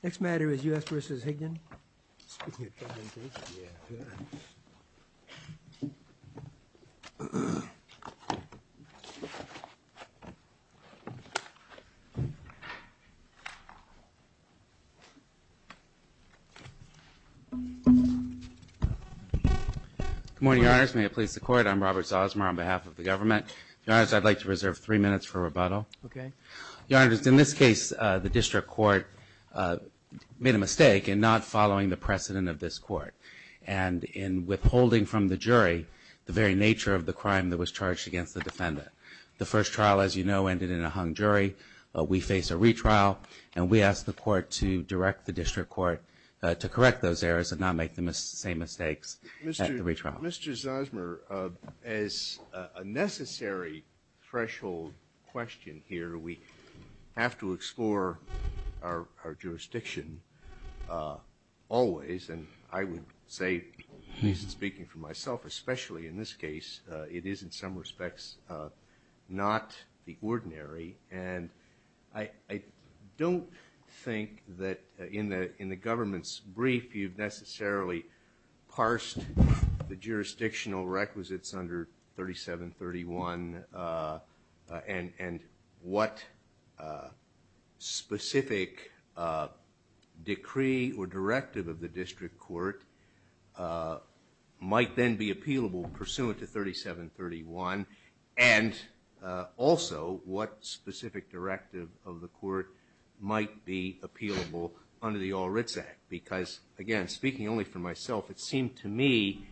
The next matter is U.S. v. Higdon. Good morning, Your Honors. May it please the Court, I'm Robert Zosmar on behalf of the government. Your Honors, I'd like to reserve three minutes for rebuttal. Okay. Your Honors, in this case, the District Court made a mistake in not following the precedent of this Court and in withholding from the jury the very nature of the crime that was charged against the defendant. The first trial, as you know, ended in a hung jury. We face a retrial, and we ask the Court to direct the District Court to correct those errors and not make the same mistakes at the retrial. Mr. Zosmar, as a necessary threshold question here, we have to explore our jurisdiction always, and I would say, at least speaking for myself, especially in this case, it is in some respects not the ordinary, and I don't think that in the government's brief you've necessarily parsed the jurisdictional requisites under 3731 and what specific decree or directive of the District Court might then be appealable pursuant to 3731, and also what again, speaking only for myself, it seemed to me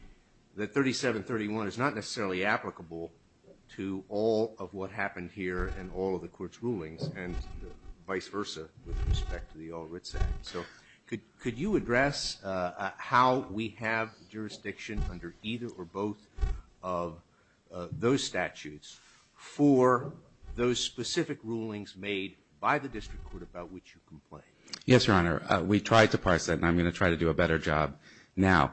that 3731 is not necessarily applicable to all of what happened here and all of the Court's rulings, and vice versa with respect to the All Writs Act. So could you address how we have jurisdiction under either or both of those statutes for those specific rulings made by the District Court about which you complain? Yes, Your Honor. We tried to parse it, and I'm going to try to do a better job now.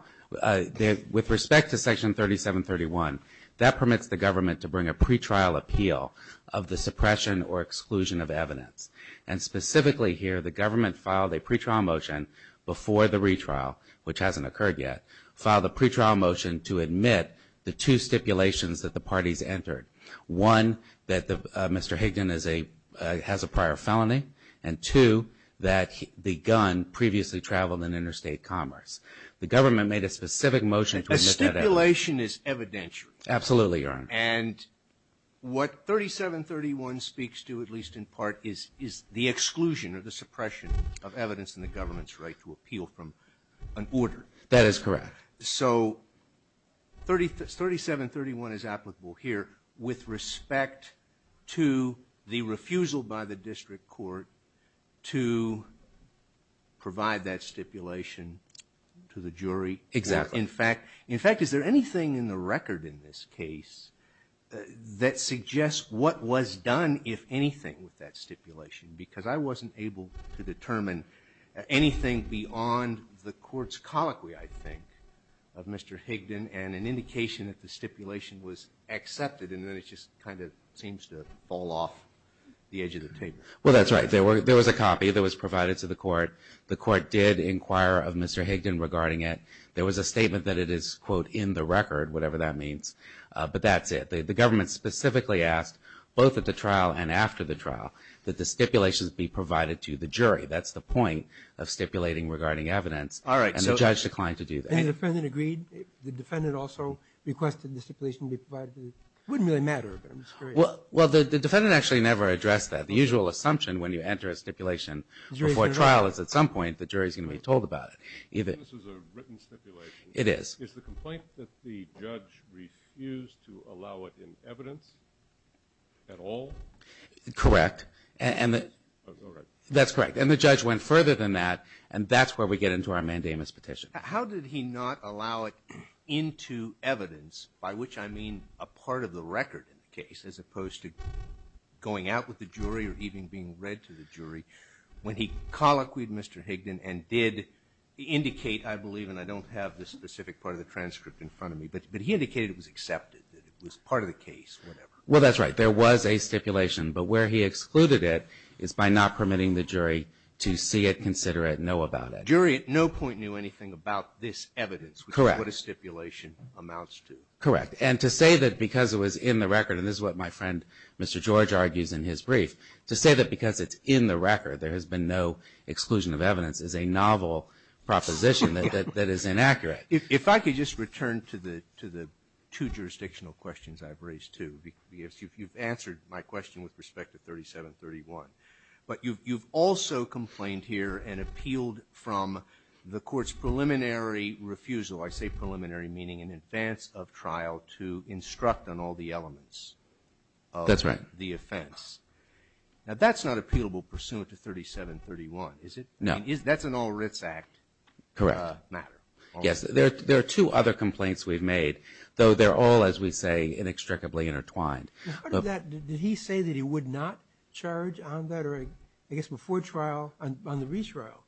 With respect to Section 3731, that permits the government to bring a pretrial appeal of the suppression or exclusion of evidence, and specifically here, the government filed a pretrial motion before the retrial, which hasn't occurred yet, filed a pretrial motion to admit the two stipulations that the parties entered, one, that Mr. Higdon has a prior felony, and two, that the gun previously traveled in interstate commerce. The government made a specific motion to admit that evidence. A stipulation is evidentiary. Absolutely, Your Honor. And what 3731 speaks to, at least in part, is the exclusion or the suppression of evidence in the government's right to appeal from an order. That is correct. So 3731 is applicable here with respect to the refusal by the District Court to provide that stipulation to the jury. Exactly. In fact, is there anything in the record in this case that suggests what was done, if anything, with that stipulation? Because I wasn't able to determine anything beyond the court's colloquy, I think, of Mr. Higdon and an indication that the stipulation was accepted, and then it just kind of seems to fall off the edge of the table. Well, that's right. There was a copy that was provided to the court. The court did inquire of Mr. Higdon regarding it. There was a statement that it is, quote, in the record, whatever that means. But that's it. The government specifically asked, both at the trial and after the trial, that the stipulations be provided to the jury. That's the point of stipulating regarding evidence. All right. And the judge declined to do that. And the defendant agreed? The defendant also requested the stipulation be provided? It wouldn't really matter, but I'm just curious. Well, the defendant actually never addressed that. The usual assumption when you enter a stipulation before trial is, at some point, the jury is going to be told about it. This is a written stipulation. It is. Is the complaint that the judge refused to allow it in evidence at all? Correct. All right. That's correct. And the judge went further than that, and that's where we get into our mandamus petition. How did he not allow it into evidence, by which I mean a part of the record in the case, as opposed to going out with the jury or even being read to the jury, when he colloquied Mr. Higdon and did indicate, I believe, and I don't have the specific part of the transcript in front of me, but he indicated it was accepted, that it was part of the case, whatever. Well, that's right. There was a stipulation. But where he excluded it is by not permitting the jury to see it, consider it, know about it. The jury at no point knew anything about this evidence, which is what a stipulation amounts to. Correct. And to say that because it was in the record, and this is what my friend Mr. George argues in his brief, to say that because it's in the record, there has been no exclusion of evidence is a novel proposition that is inaccurate. If I could just return to the two jurisdictional questions I've raised, too. You've answered my question with respect to 3731. But you've also complained here and appealed from the Court's preliminary refusal, I say preliminary meaning in advance of trial, to instruct on all the elements of the offense. That's right. No. Correct. Yes. There are two other complaints we've made, though they're all, as we say, inextricably intertwined. Did he say that he would not charge on that? Or I guess before trial, on the retrial,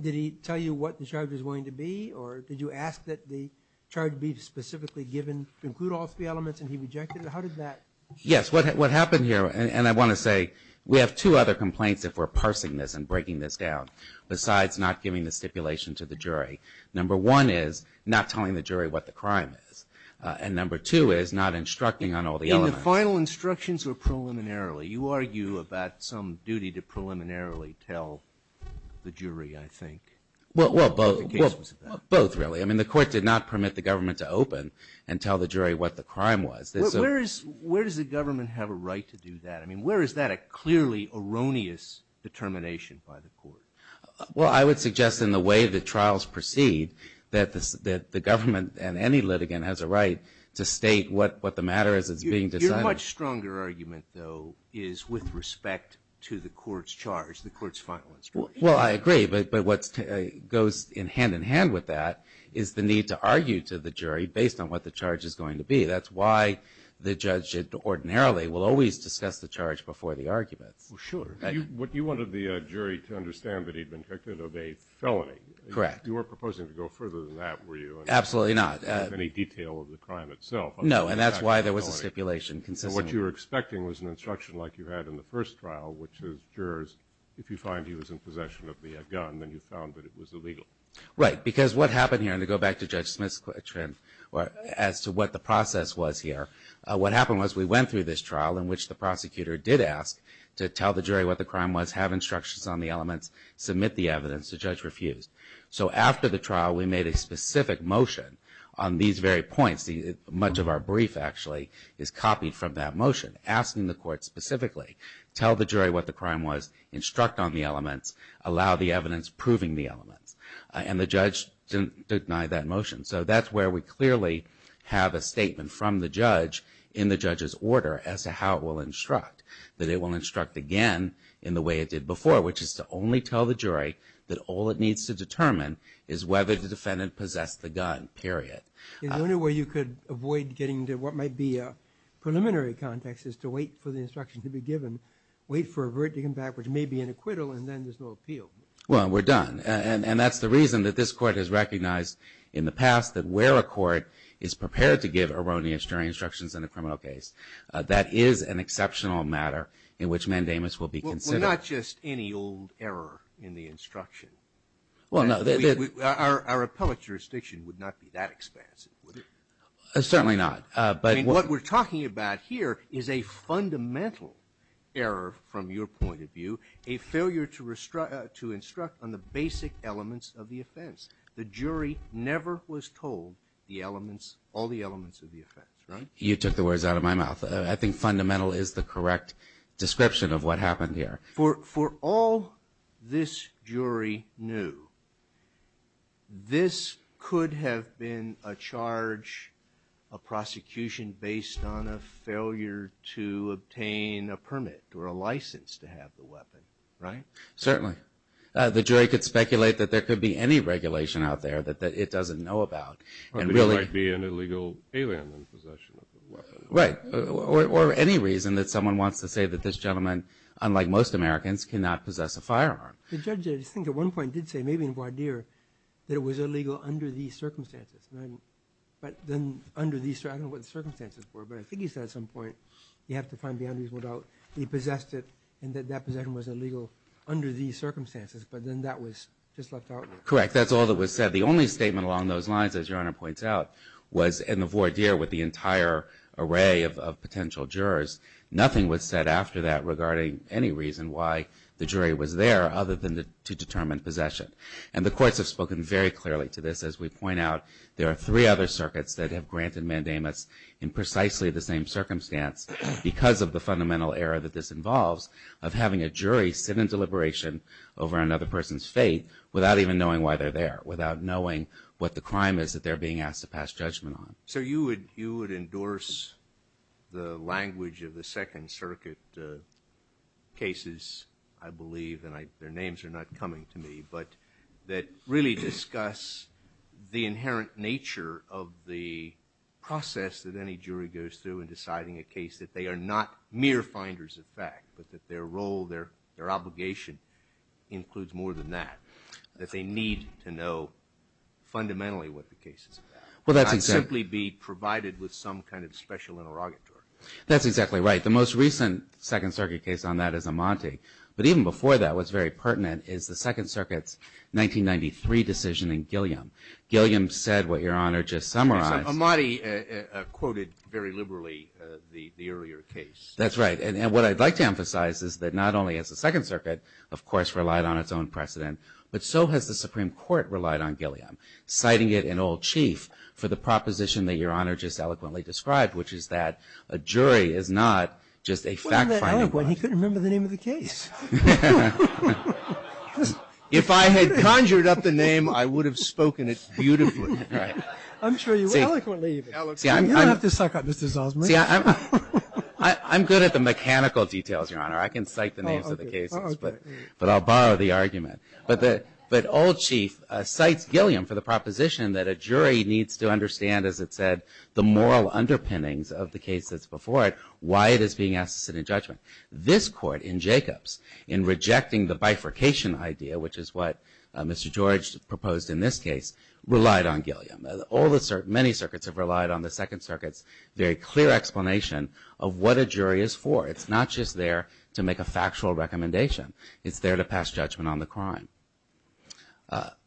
did he tell you what the charge was going to be? Or did you ask that the charge be specifically given to include all three elements and he rejected it? How did that? Yes. What happened here, and I want to say, we have two other complaints, if we're parsing this and breaking this down, besides not giving the stipulation to the jury. Number one is not telling the jury what the crime is. And number two is not instructing on all the elements. And the final instructions were preliminarily. You argue about some duty to preliminarily tell the jury, I think, what the case was about. Both, really. I mean, the Court did not permit the government to open and tell the jury what the crime was. Where does the government have a right to do that? I mean, where is that a clearly erroneous determination by the Court? Well, I would suggest in the way the trials proceed that the government and any litigant has a right to state what the matter is that's being decided. Your much stronger argument, though, is with respect to the Court's charge, the Court's final instruction. Well, I agree. But what goes hand-in-hand with that is the need to argue to the jury based on what the charge is going to be. That's why the judge ordinarily will always discuss the charge before the arguments. Well, sure. You wanted the jury to understand that he'd been convicted of a felony. Correct. You weren't proposing to go further than that, were you? Absolutely not. Any detail of the crime itself. No, and that's why there was a stipulation consistently. So what you were expecting was an instruction like you had in the first trial, which is jurors, if you find he was in possession of the gun, then you found that it was illegal. Right, because what happened here, and to go back to Judge Smith's trend as to what the process was here, what happened was we went through this trial in which the prosecutor did ask to tell the jury what the crime was, have instructions on the elements, submit the evidence. The judge refused. So after the trial, we made a specific motion on these very points. Much of our brief, actually, is copied from that motion, asking the Court specifically, tell the jury what the crime was, instruct on the elements, allow the evidence proving the elements. And the judge didn't deny that motion. So that's where we clearly have a statement from the judge in the judge's order as to how it will instruct, that it will instruct again in the way it did before, which is to only tell the jury that all it needs to determine is whether the defendant possessed the gun, period. The only way you could avoid getting to what might be a preliminary context is to wait for the instruction to be given, wait for a verdict to come back, which may be an acquittal, and then there's no appeal. Well, we're done. And that's the reason that this Court has recognized in the past that where a court is prepared to give erroneous jury instructions in a criminal case, that is an exceptional matter in which mandamus will be considered. Well, not just any old error in the instruction. Well, no. Our appellate jurisdiction would not be that expansive, would it? Certainly not. I mean, what we're talking about here is a fundamental error from your point of view, a failure to instruct on the basic elements of the offense. The jury never was told the elements, all the elements of the offense, right? You took the words out of my mouth. I think fundamental is the correct description of what happened here. For all this jury knew, this could have been a charge, a prosecution based on a failure to obtain a permit or a license to have the weapon, right? Certainly. The jury could speculate that there could be any regulation out there that it doesn't know about. It might be an illegal alien in possession of the weapon. Right. Or any reason that someone wants to say that this gentleman, unlike most Americans, cannot possess a firearm. The judge, I think at one point did say, maybe in voir dire, that it was illegal under these circumstances. But then under these circumstances, I don't know what the circumstances were, but I think he said at some point, you have to find beyond reasonable doubt, he possessed it and that possession was illegal under these circumstances. But then that was just left out. Correct. That's all that was said. The only statement along those lines, as Your Honor points out, was in the voir dire with the entire array of potential jurors. Nothing was said after that regarding any reason why the jury was there other than to determine possession. And the courts have spoken very clearly to this. As we point out, there are three other circuits that have granted mandamus in precisely the same circumstance because of the fundamental error that this involves of having a jury sit in deliberation over another person's fate without even knowing why they're there, without knowing what the crime is that they're being asked to pass judgment on. So you would endorse the language of the Second Circuit cases, I believe, and their names are not coming to me, but that really discuss the inherent nature of the process that any jury goes through in deciding a case that they are not mere finders of fact, but that their role, their obligation includes more than that, that they need to know fundamentally what the case is about and not simply be provided with some kind of special interrogatory. That's exactly right. The most recent Second Circuit case on that is Amante. But even before that, what's very pertinent is the Second Circuit's 1993 decision in Gilliam. Gilliam said what Your Honor just summarized. Amante quoted very liberally the earlier case. That's right. And what I'd like to emphasize is that not only has the Second Circuit, of course, relied on its own precedent, but so has the Supreme Court relied on Gilliam, citing it in Old Chief for the proposition that Your Honor just eloquently described, which is that a jury is not just a fact-finding body. He couldn't remember the name of the case. If I had conjured up the name, I would have spoken it beautifully. I'm sure you would, eloquently even. You don't have to suck up, Mr. Zalzman. I'm good at the mechanical details, Your Honor. I can cite the names of the cases, but I'll borrow the argument. But Old Chief cites Gilliam for the proposition that a jury needs to understand, as it said, the moral underpinnings of the case that's before it, why it is being asked to sit in judgment. This Court in Jacobs, in rejecting the bifurcation idea, which is what Mr. George proposed in this case, relied on Gilliam. Many circuits have relied on the Second Circuit's very clear explanation of what a jury is for. It's not just there to make a factual recommendation. It's there to pass judgment on the crime.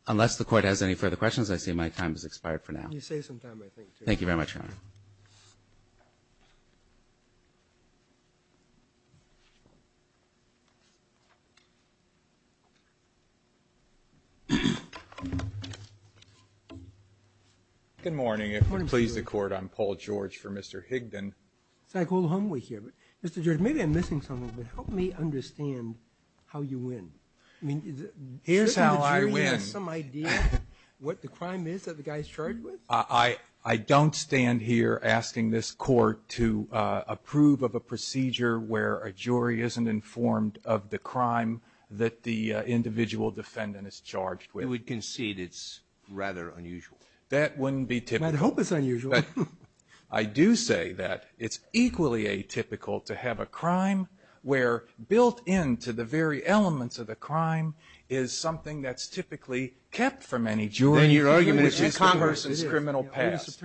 Unless the Court has any further questions, I see my time has expired for now. You save some time, I think, too. Thank you very much, Your Honor. Good morning. If you'll please the Court, I'm Paul George for Mr. Higdon. It's like old homework here. Mr. George, maybe I'm missing something, but help me understand how you win. Here's how I win. Do you have some idea what the crime is that the guy is charged with? I don't stand here asking this Court to approve of a procedure where a jury isn't informed of the crime that the individual defendant is charged with. You would concede it's rather unusual. That wouldn't be typical. I'd hope it's unusual. I do say that it's equally atypical to have a crime where built into the very elements of the crime is something that's typically kept from any jury, which is the person's criminal past.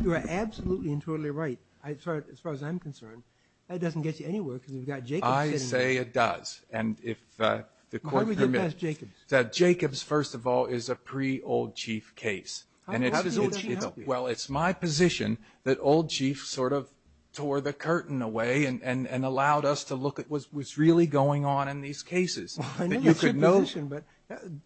You are absolutely and totally right, as far as I'm concerned. That doesn't get you anywhere because we've got Jacobs sitting here. I say it does. And if the Court permits. Why would you pass Jacobs? Jacobs, first of all, is a pre-Old Chief case. How does the Old Chief help you? Well, it's my position that Old Chief sort of tore the curtain away and allowed us to look at what's really going on in these cases. I know that's your position, but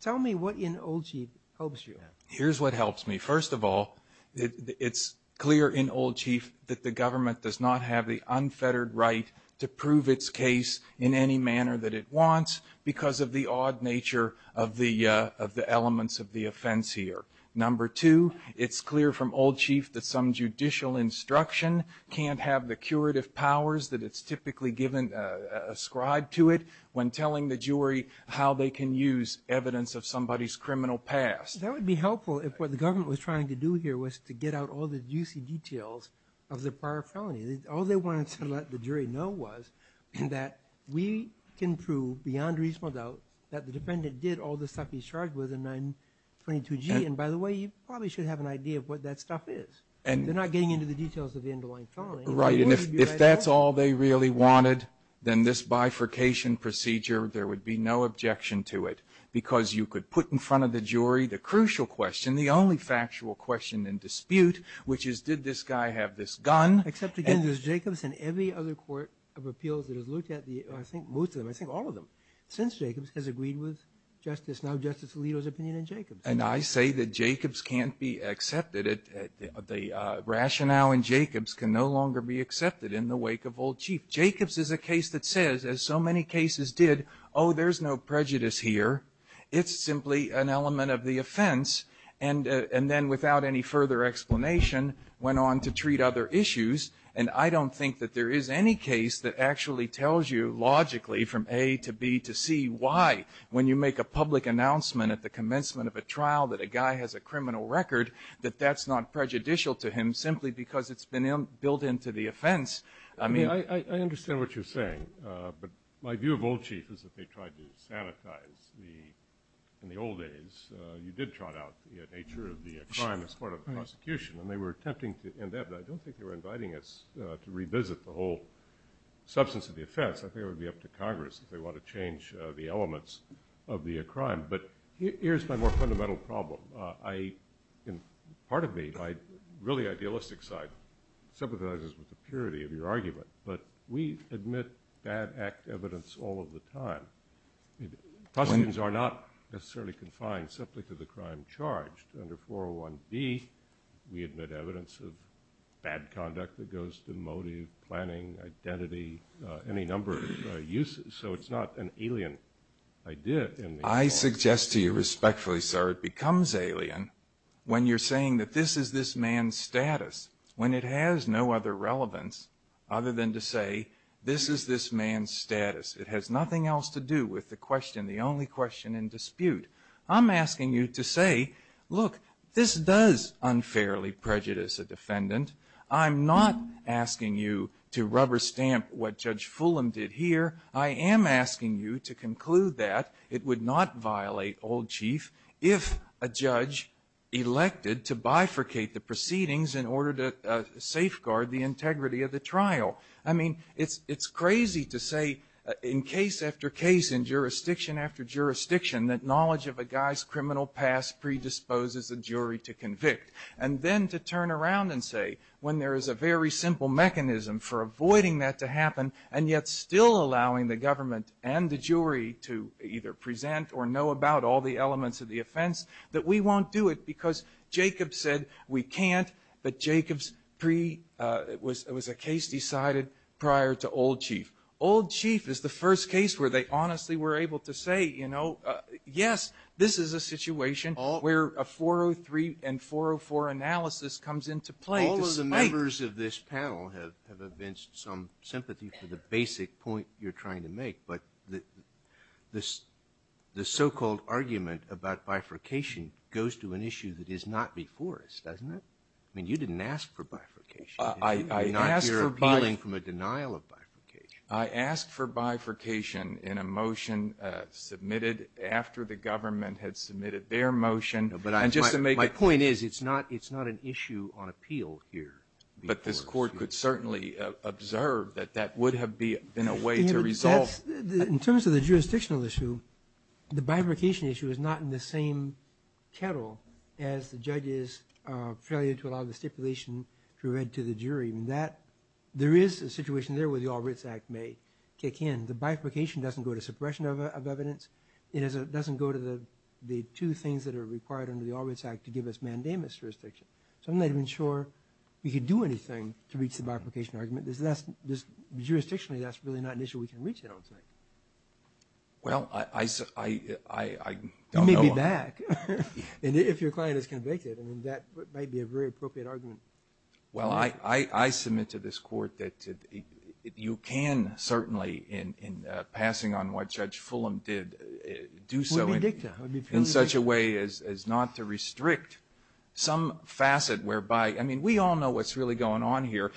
tell me what in Old Chief helps you. Here's what helps me. First of all, it's clear in Old Chief that the government does not have the unfettered right to prove its case in any manner that it wants because of the odd nature of the elements of the offense here. Number two, it's clear from Old Chief that some judicial instruction can't have the curative powers that it's typically given, ascribed to it, when telling the jury how they can use evidence of somebody's criminal past. That would be helpful if what the government was trying to do here was to get out all the juicy details of the prior felony. All they wanted to let the jury know was that we can prove beyond reasonable doubt that the defendant did all the stuff he's charged with in 922G. And by the way, you probably should have an idea of what that stuff is. They're not getting into the details of the underlying felony. Right. And if that's all they really wanted, then this bifurcation procedure, there would be no objection to it because you could put in front of the jury the crucial question, the only factual question in dispute, which is did this guy have this gun? Except, again, there's Jacobs and every other court of appeals that has looked at the, I think most of them, I think all of them, since Jacobs has agreed with Justice, now Justice Alito's opinion in Jacobs. And I say that Jacobs can't be accepted. The rationale in Jacobs can no longer be accepted in the wake of Old Chief. Jacobs is a case that says, as so many cases did, oh, there's no prejudice here. It's simply an element of the offense. And then without any further explanation, went on to treat other issues. And I don't think that there is any case that actually tells you logically from A to B to C why when you make a public announcement at the commencement of a trial that a guy has a criminal record, that that's not prejudicial to him simply because it's been built into the offense. I mean, I understand what you're saying. But my view of Old Chief is that they tried to sanitize the, in the old days, you did trot out the nature of the crime as part of the prosecution. And they were attempting to end that. But I don't think they were inviting us to revisit the whole substance of the offense. I think it would be up to Congress if they want to change the elements of the crime. But here's my more fundamental problem. Part of me, my really idealistic side, sympathizes with the purity of your argument. But we admit bad act evidence all of the time. Prosecutions are not necessarily confined simply to the crime charged. Under 401B, we admit evidence of bad conduct that goes to motive, planning, identity, any number of uses. So it's not an alien idea. I suggest to you respectfully, sir, it becomes alien when you're saying that this is this man's status, when it has no other relevance other than to say this is this man's status. It has nothing else to do with the question, the only question in dispute. I'm asking you to say, look, this does unfairly prejudice a defendant. I'm not asking you to rubber stamp what Judge Fulham did here. I am asking you to conclude that it would not violate old chief if a judge elected to bifurcate the proceedings in order to safeguard the integrity of the trial. I mean, it's crazy to say in case after case, in jurisdiction after jurisdiction, that knowledge of a guy's criminal past predisposes a jury to convict. And then to turn around and say when there is a very simple mechanism for avoiding that to happen and yet still allowing the government and the jury to either present or know about all the elements of the offense, that we won't do it because Jacob said we can't, but Jacob's pre- it was a case decided prior to old chief. Old chief is the first case where they honestly were able to say, you know, yes, this is a situation where a 403 and 404 analysis comes into play. All of the members of this panel have evinced some sympathy for the basic point you're trying to make, but the so-called argument about bifurcation goes to an issue that is not before us, doesn't it? I mean, you didn't ask for bifurcation. You're not here appealing from a denial of bifurcation. I asked for bifurcation in a motion submitted after the government had submitted their motion. My point is it's not an issue on appeal here. But this court could certainly observe that that would have been a way to resolve. In terms of the jurisdictional issue, the bifurcation issue is not in the same kettle as the judge's failure to allow the stipulation to read to the jury. There is a situation there where the All Writs Act may kick in. The bifurcation doesn't go to suppression of evidence. It doesn't go to the two things that are required under the All Writs Act to give us mandamus jurisdiction. So I'm not even sure we could do anything to reach the bifurcation argument. Jurisdictionally, that's really not an issue we can reach, I don't think. Well, I don't know. You may be back. And if your client is convicted, that might be a very appropriate argument. Well, I submit to this Court that you can certainly, in passing on what Judge Fulham did, do so in such a way as not to restrict some facet whereby, I mean, we all know what's really going on here.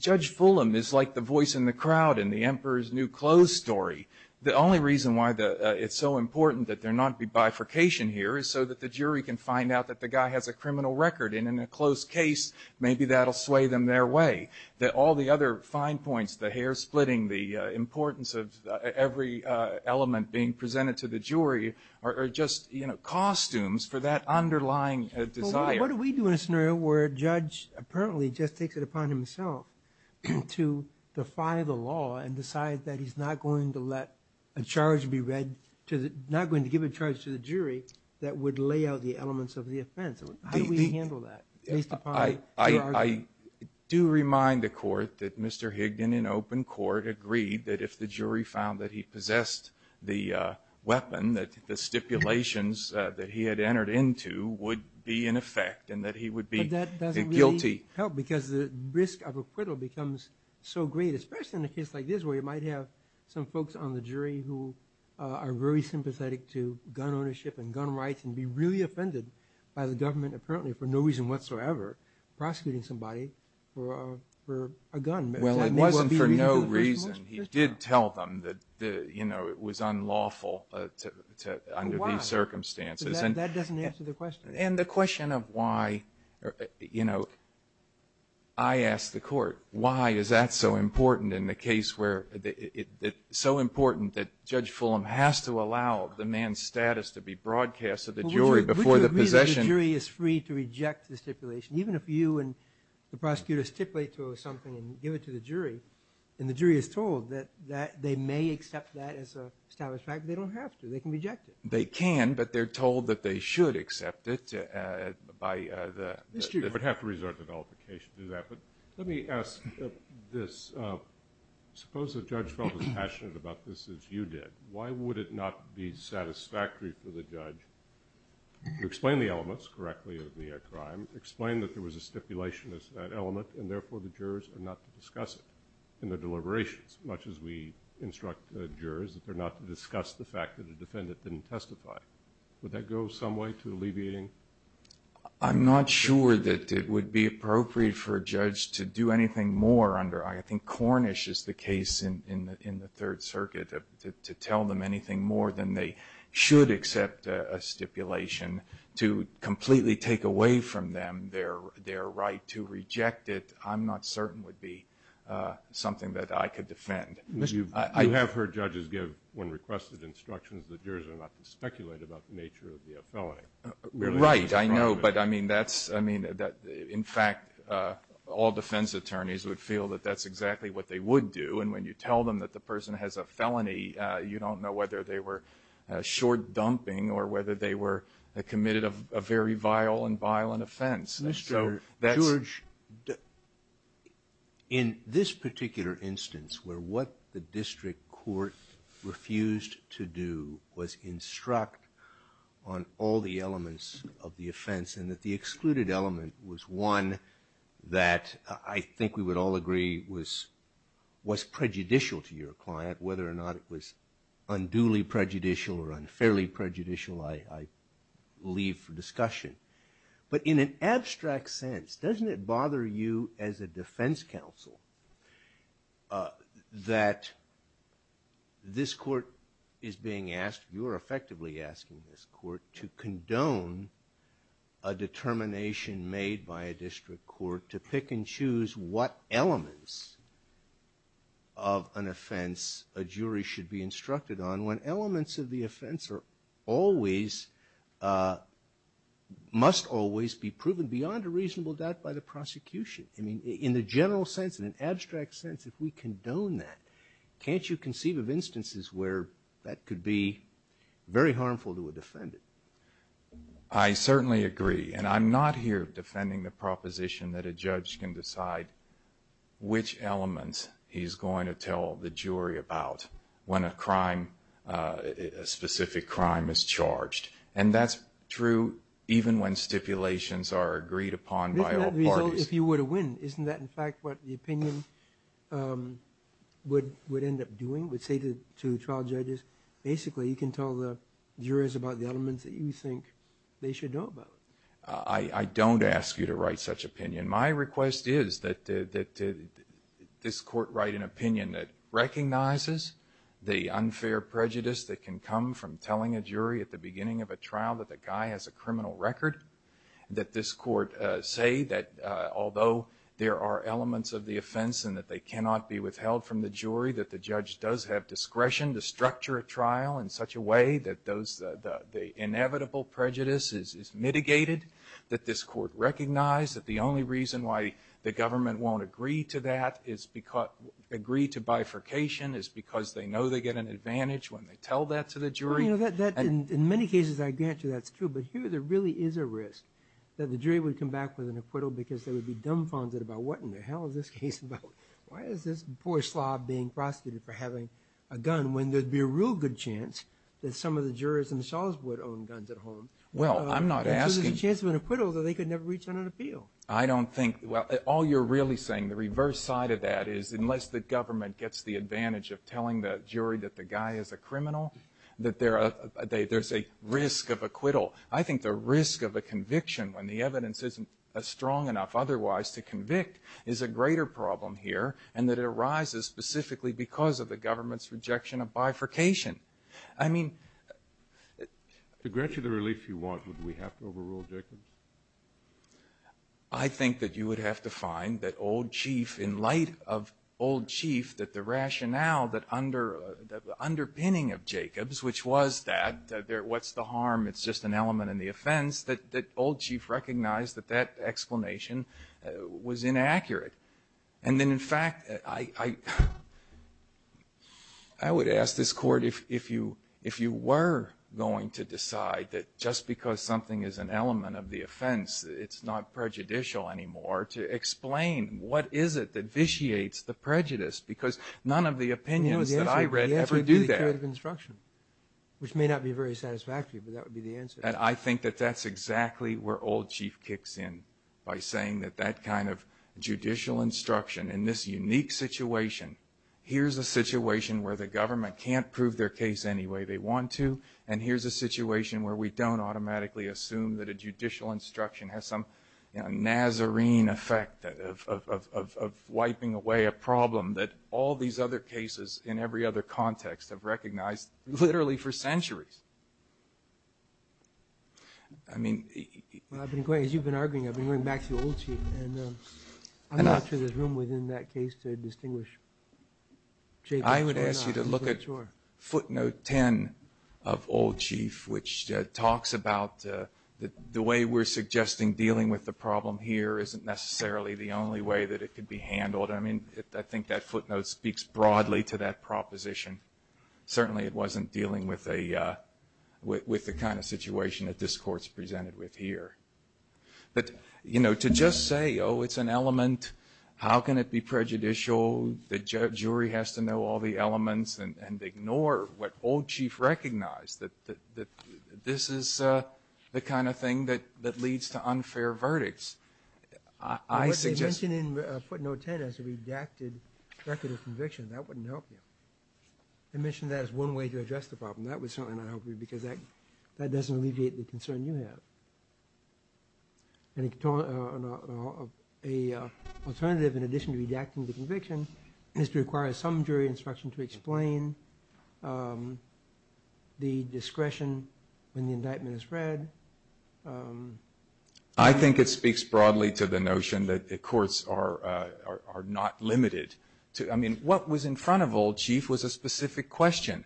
Judge Fulham is like the voice in the crowd in the Emperor's New Clothes story. The only reason why it's so important that there not be bifurcation here is so that the jury can find out that the guy has a criminal record, and in a closed case, maybe that'll sway them their way. That all the other fine points, the hair splitting, the importance of every element being presented to the jury are just, you know, costumes for that underlying desire. What do we do in a scenario where a judge apparently just takes it upon himself to defy the law and decide that he's not going to let a charge be read to the – not going to give a charge to the jury that would lay out the elements of the offense? How do we handle that based upon your argument? I do remind the Court that Mr. Higdon in open court agreed that if the jury found that he possessed the weapon, that the stipulations that he had entered into would be in effect and that he would be guilty. But that doesn't really help because the risk of acquittal becomes so great, especially in a case like this where you might have some folks on the jury who are very sympathetic to gun ownership and gun rights and be really offended by the government apparently for no reason whatsoever prosecuting somebody for a gun. Well, it wasn't for no reason. He did tell them that, you know, it was unlawful under these circumstances. That doesn't answer the question. And the question of why – you know, I ask the Court, why is that so important in the case where – so important that Judge Fulham has to allow the man's status to be broadcast to the jury before the possession? Would you agree that the jury is free to reject the stipulation? Even if you and the prosecutor stipulate to something and give it to the jury and the jury is told that they may accept that as an established fact, they don't have to. They can reject it. They can, but they're told that they should accept it by the – The jury would have to resort to nullification to do that. But let me ask this. Suppose the judge felt as passionate about this as you did. Why would it not be satisfactory for the judge to explain the elements correctly of the crime, explain that there was a stipulation as that element, and therefore the jurors are not to discuss it in their deliberations, much as we instruct jurors that they're not to discuss the fact that a defendant didn't testify? Would that go some way to alleviating – I'm not sure that it would be appropriate for a judge to do anything more under – I think Cornish is the case in the Third Circuit, to tell them anything more than they should accept a stipulation to completely take away from them their right to reject it. I'm not certain it would be something that I could defend. You have heard judges give, when requested, instructions that jurors are not to speculate about the nature of the felony. Right, I know, but I mean that's – in fact, all defense attorneys would feel that that's exactly what they would do. And when you tell them that the person has a felony, you don't know whether they were short-dumping or whether they were committed a very vile and violent offense. Mr. George, in this particular instance, where what the district court refused to do was instruct on all the elements of the offense, and that the excluded element was one that I think we would all agree was prejudicial to your client, whether or not it was unduly prejudicial or unfairly prejudicial, I leave for discussion. But in an abstract sense, doesn't it bother you as a defense counsel that this court is being asked – you are effectively asking this court to condone a determination made by a district court to pick and choose what elements of an offense a jury should be instructed on when elements of the offense are always – must always be proven beyond a reasonable doubt by the prosecution? I mean, in the general sense, in an abstract sense, if we condone that, can't you conceive of instances where that could be very harmful to a defendant? I certainly agree, and I'm not here defending the proposition that a judge can decide which elements he's going to tell the jury about when a crime – a specific crime is charged. And that's true even when stipulations are agreed upon by all parties. Isn't that the result if you were to win? Isn't that, in fact, what the opinion would end up doing? Would say to the trial judges, basically, you can tell the jurors about the elements that you think they should know about. I don't ask you to write such opinion. My request is that this court write an opinion that recognizes the unfair prejudice that can come from telling a jury at the beginning of a trial that the guy has a criminal record, that this court say that although there are elements of the offense and that they cannot be withheld from the jury, that the judge does have discretion to structure a trial in such a way that those – the inevitable prejudice is mitigated, that this court recognize that the only reason why the government won't agree to that is – agree to bifurcation is because they know they get an advantage when they tell that to the jury. Well, you know, that – in many cases I'd answer that's true, but here there really is a risk that the jury would come back with an acquittal because they would be dumbfounded about what in the hell is this case about? Why is this poor slob being prosecuted for having a gun when there'd be a real good chance that some of the jurors themselves would own guns at home? Well, I'm not asking – Because there's a chance of an acquittal that they could never reach on an appeal. I don't think – well, all you're really saying, the reverse side of that, is unless the government gets the advantage of telling the jury that the guy is a criminal, that there are – there's a risk of acquittal. I think the risk of a conviction when the evidence isn't strong enough otherwise to convict is a greater problem here and that it arises specifically because of the government's rejection of bifurcation. I mean – To grant you the relief you want, would we have to overrule Jacobs? I think that you would have to find that Old Chief, in light of Old Chief, that the rationale that underpinning of Jacobs, which was that, what's the harm, it's just an element in the offense, that Old Chief recognized that that explanation was inaccurate. And then, in fact, I would ask this Court, if you were going to decide that just because something is an element of the offense, it's not prejudicial anymore, to explain what is it that vitiates the prejudice, because none of the opinions that I read ever do that. The answer would be the theory of construction, which may not be very satisfactory, but that would be the answer. And I think that that's exactly where Old Chief kicks in, by saying that that kind of judicial instruction in this unique situation, here's a situation where the government can't prove their case any way they want to, and here's a situation where we don't automatically assume that a judicial instruction has some Nazarene effect of wiping away a problem that all these other cases in every other context have recognized literally for centuries. I mean – As you've been arguing, I've been going back to Old Chief, and I'm not sure there's room within that case to distinguish – I would ask you to look at footnote 10 of Old Chief, which talks about the way we're suggesting dealing with the problem here isn't necessarily the only way that it could be handled. I mean, I think that footnote speaks broadly to that proposition. Certainly it wasn't dealing with the kind of situation that this Court's presented with here. But, you know, to just say, oh, it's an element, how can it be prejudicial, the jury has to know all the elements and ignore what Old Chief recognized, that this is the kind of thing that leads to unfair verdicts. I suggest – If you put footnote 10 as a redacted record of conviction, that wouldn't help you. I mentioned that as one way to address the problem. That would certainly not help you because that doesn't alleviate the concern you have. An alternative, in addition to redacting the conviction, is to require some jury instruction to explain the discretion when the indictment is read. I think it speaks broadly to the notion that the courts are not limited. I mean, what was in front of Old Chief was a specific question.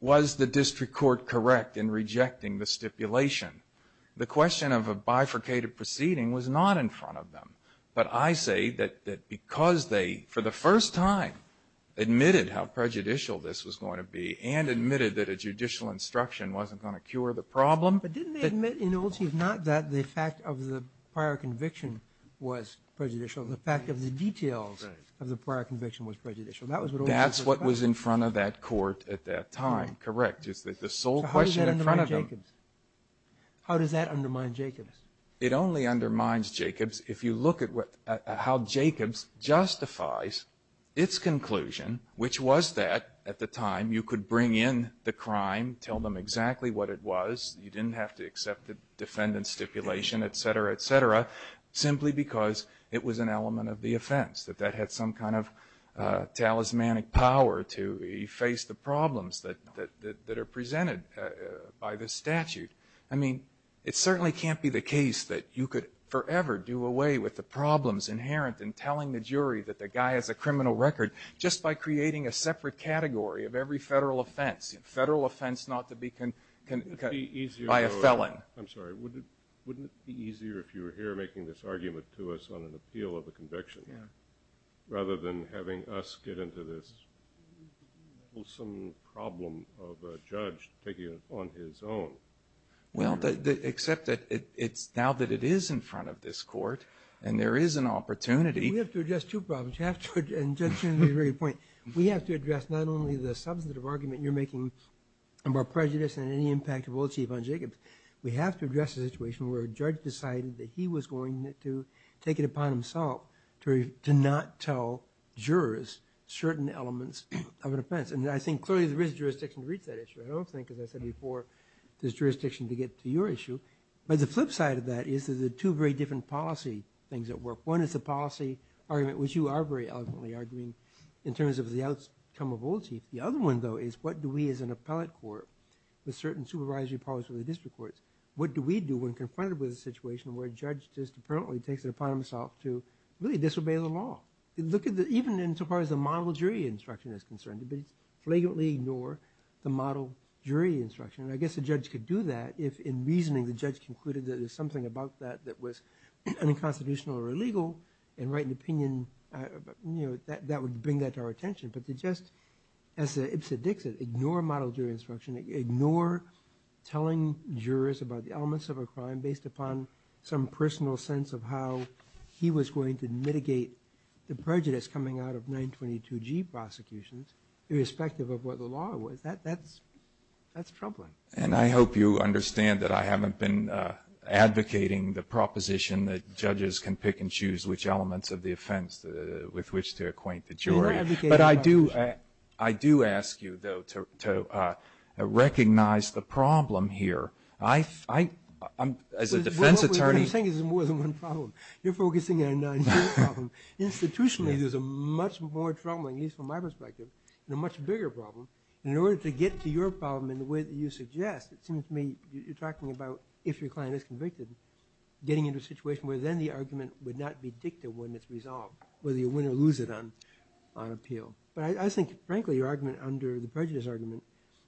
Was the district court correct in rejecting the stipulation? The question of a bifurcated proceeding was not in front of them. But I say that because they, for the first time, admitted how prejudicial this was going to be and admitted that a judicial instruction wasn't going to cure the problem, but didn't they admit in Old Chief not that the fact of the prior conviction was prejudicial, the fact of the details of the prior conviction was prejudicial? That's what was in front of that court at that time. Correct. So how does that undermine Jacobs? How does that undermine Jacobs? It only undermines Jacobs if you look at how Jacobs justifies its conclusion, which was that, at the time, you could bring in the crime, tell them exactly what it was. You didn't have to accept the defendant's stipulation, et cetera, et cetera, simply because it was an element of the offense, that that had some kind of talismanic power to efface the problems that are presented by the statute. I mean, it certainly can't be the case that you could forever do away with the problems inherent in telling the jury that the guy has a criminal record just by creating a separate category of every Federal offense, Federal offense not to be convicted by a felon. I'm sorry. Wouldn't it be easier if you were here making this argument to us on an appeal of a conviction, rather than having us get into this wholesome problem of a judge taking it on his own? Well, except that it's now that it is in front of this court, and there is an opportunity. We have to address two problems, and Judge Cheney made a very good point. We have to address not only the substantive argument you're making about prejudice and any impact it will achieve on Jacobs. We have to address the situation where a judge decided that he was going to take it upon himself to not tell jurors certain elements of an offense. And I think clearly there is jurisdiction to reach that issue. I don't think, as I said before, there's jurisdiction to get to your issue. But the flip side of that is that there are two very different policy things at work. One is the policy argument, which you are very eloquently arguing, in terms of the outcome of Old Chief. The other one, though, is what do we as an appellate court, with certain supervisory powers for the district courts, what do we do when confronted with a situation where a judge just apparently takes it upon himself to really disobey the law? Even in so far as the model jury instruction is concerned, they flagrantly ignore the model jury instruction. And I guess a judge could do that if, in reasoning, the judge concluded that there's something about that that was unconstitutional or illegal and write an opinion that would bring that to our attention. But to just, as Ipsit Dixit, ignore model jury instruction, ignore telling jurors about the elements of a crime based upon some personal sense of how he was going to mitigate the prejudice coming out of 922G prosecutions, irrespective of what the law was, that's troubling. And I hope you understand that I haven't been advocating the proposition that judges can pick and choose which elements of the offense with which to acquaint the jury. But I do ask you, though, to recognize the problem here. I, as a defense attorney ---- But what you're saying is more than one problem. You're focusing on nine-two problem. Institutionally, there's a much more troubling, at least from my perspective, and a much bigger problem. And in order to get to your problem in the way that you suggest, it seems to me you're talking about if your client is convicted, getting into a situation where then the argument would not be dicta when it's resolved, whether you win or lose it on appeal. But I think, frankly, your argument under the prejudice argument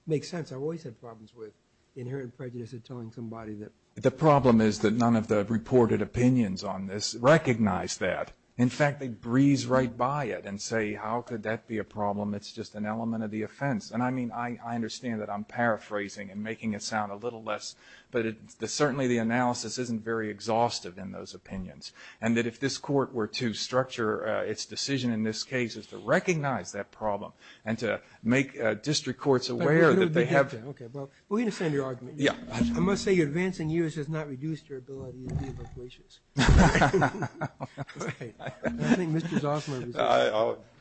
makes sense. I've always had problems with the inherent prejudice of telling somebody that. The problem is that none of the reported opinions on this recognize that. In fact, they breeze right by it and say, how could that be a problem? It's just an element of the offense. And, I mean, I understand that I'm paraphrasing and making it sound a little less, but certainly the analysis isn't very exhaustive in those opinions, and that if this court were to structure its decision in this case, it's to recognize that problem and to make district courts aware that they have ---- Okay. Well, we understand your argument. I must say your advancing years has not reduced your ability to be persuasive.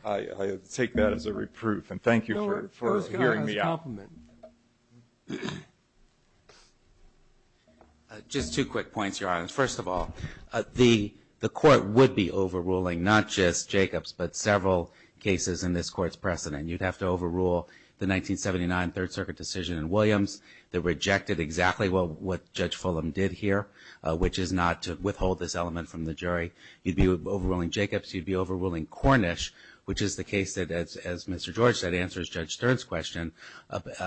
I take that as a reproof. And thank you for hearing me out. Just two quick points, Your Honor. First of all, the court would be overruling not just Jacobs, but several cases in this Court's precedent. You'd have to overrule the 1979 Third Circuit decision in Williams that rejected exactly what Judge Fulham did here, which is not to withhold this element from the jury. You'd be overruling Jacobs. You'd be overruling Cornish, which is the case that, as Mr. George said, answers Judge Stern's question.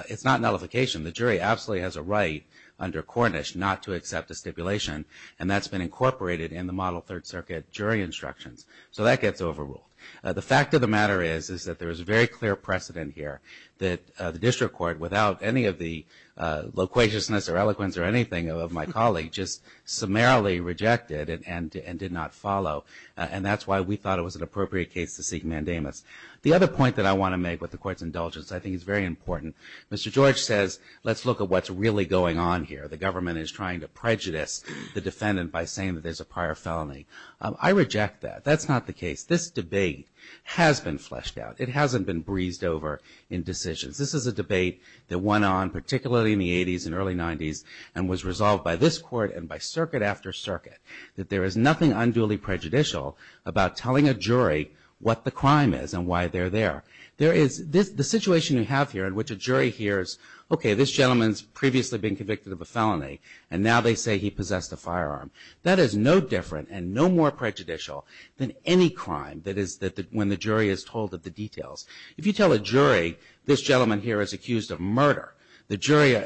It's not nullification. The jury absolutely has a right under Cornish not to accept a stipulation, and that's been incorporated in the model Third Circuit jury instructions. So that gets overruled. The fact of the matter is that there is a very clear precedent here that the district court, without any of the loquaciousness or eloquence or anything of my colleague, just summarily rejected and did not follow. And that's why we thought it was an appropriate case to seek mandamus. The other point that I want to make with the Court's indulgence I think is very important. Mr. George says, let's look at what's really going on here. The government is trying to prejudice the defendant by saying that there's a prior felony. I reject that. That's not the case. This debate has been fleshed out. It hasn't been breezed over in decisions. This is a debate that went on, particularly in the 80s and early 90s, and was resolved by this Court and by circuit after circuit, that there is nothing unduly prejudicial about telling a jury what the crime is and why they're there. The situation you have here in which a jury hears, okay, this gentleman's previously been convicted of a felony, and now they say he possessed a firearm, that is no different and no more prejudicial than any crime that is when the jury is told of the details. If you tell a jury this gentleman here is accused of murder, the jury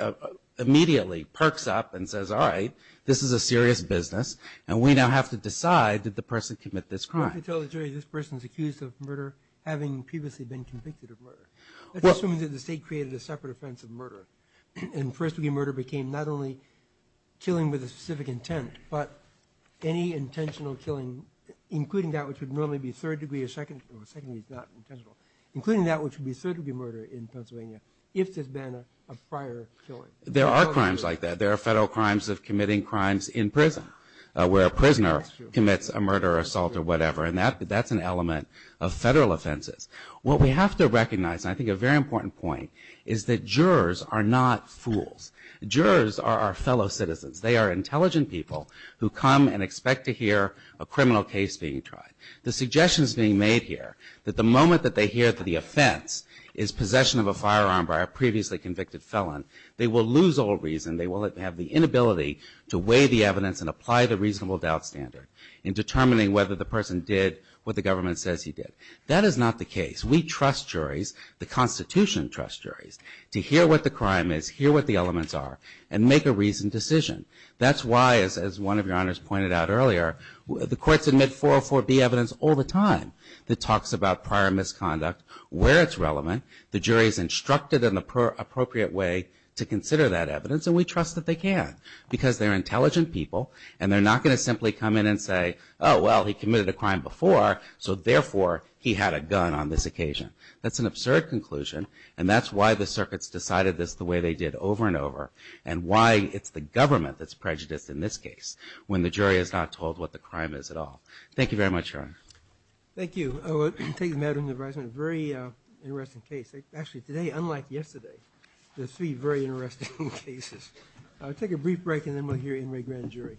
immediately perks up and says, all right, this is a serious business, and we now have to decide did the person commit this crime. If you tell the jury this person is accused of murder having previously been convicted of murder, that's assuming that the State created a separate offense of murder, and first degree murder became not only killing with a specific intent, but any intentional killing, including that which would normally be third degree not intentional, including that which would be third degree murder in Pennsylvania if there's been a prior killing. There are crimes like that. There are federal crimes of committing crimes in prison where a prisoner commits a murder or assault or whatever, and that's an element of federal offenses. What we have to recognize, and I think a very important point, is that jurors are not fools. Jurors are our fellow citizens. They are intelligent people who come and expect to hear a criminal case being tried. The suggestion is being made here that the moment that they hear that the offense is possession of a firearm by a previously convicted felon, they will lose all reason, they will have the inability to weigh the evidence and apply the reasonable doubt standard in determining whether the person did what the government says he did. That is not the case. We trust juries, the Constitution trusts juries, to hear what the crime is, hear what the elements are, and make a reasoned decision. That's why, as one of your honors pointed out earlier, the courts admit 404B evidence all the time that talks about prior misconduct, where it's relevant. The jury is instructed in the appropriate way to consider that evidence, and we trust that they can because they're intelligent people, and they're not going to simply come in and say, oh, well, he committed a crime before, so therefore he had a gun on this occasion. That's an absurd conclusion, and that's why the circuits decided this the way they did over and over and why it's the government that's prejudiced in this case when the jury is not told what the crime is at all. Thank you very much, Your Honor. Thank you. I will take the matter into advisement, a very interesting case. Actually, today, unlike yesterday, there are three very interesting cases. I'll take a brief break, and then we'll hear Inouye Grand Jury.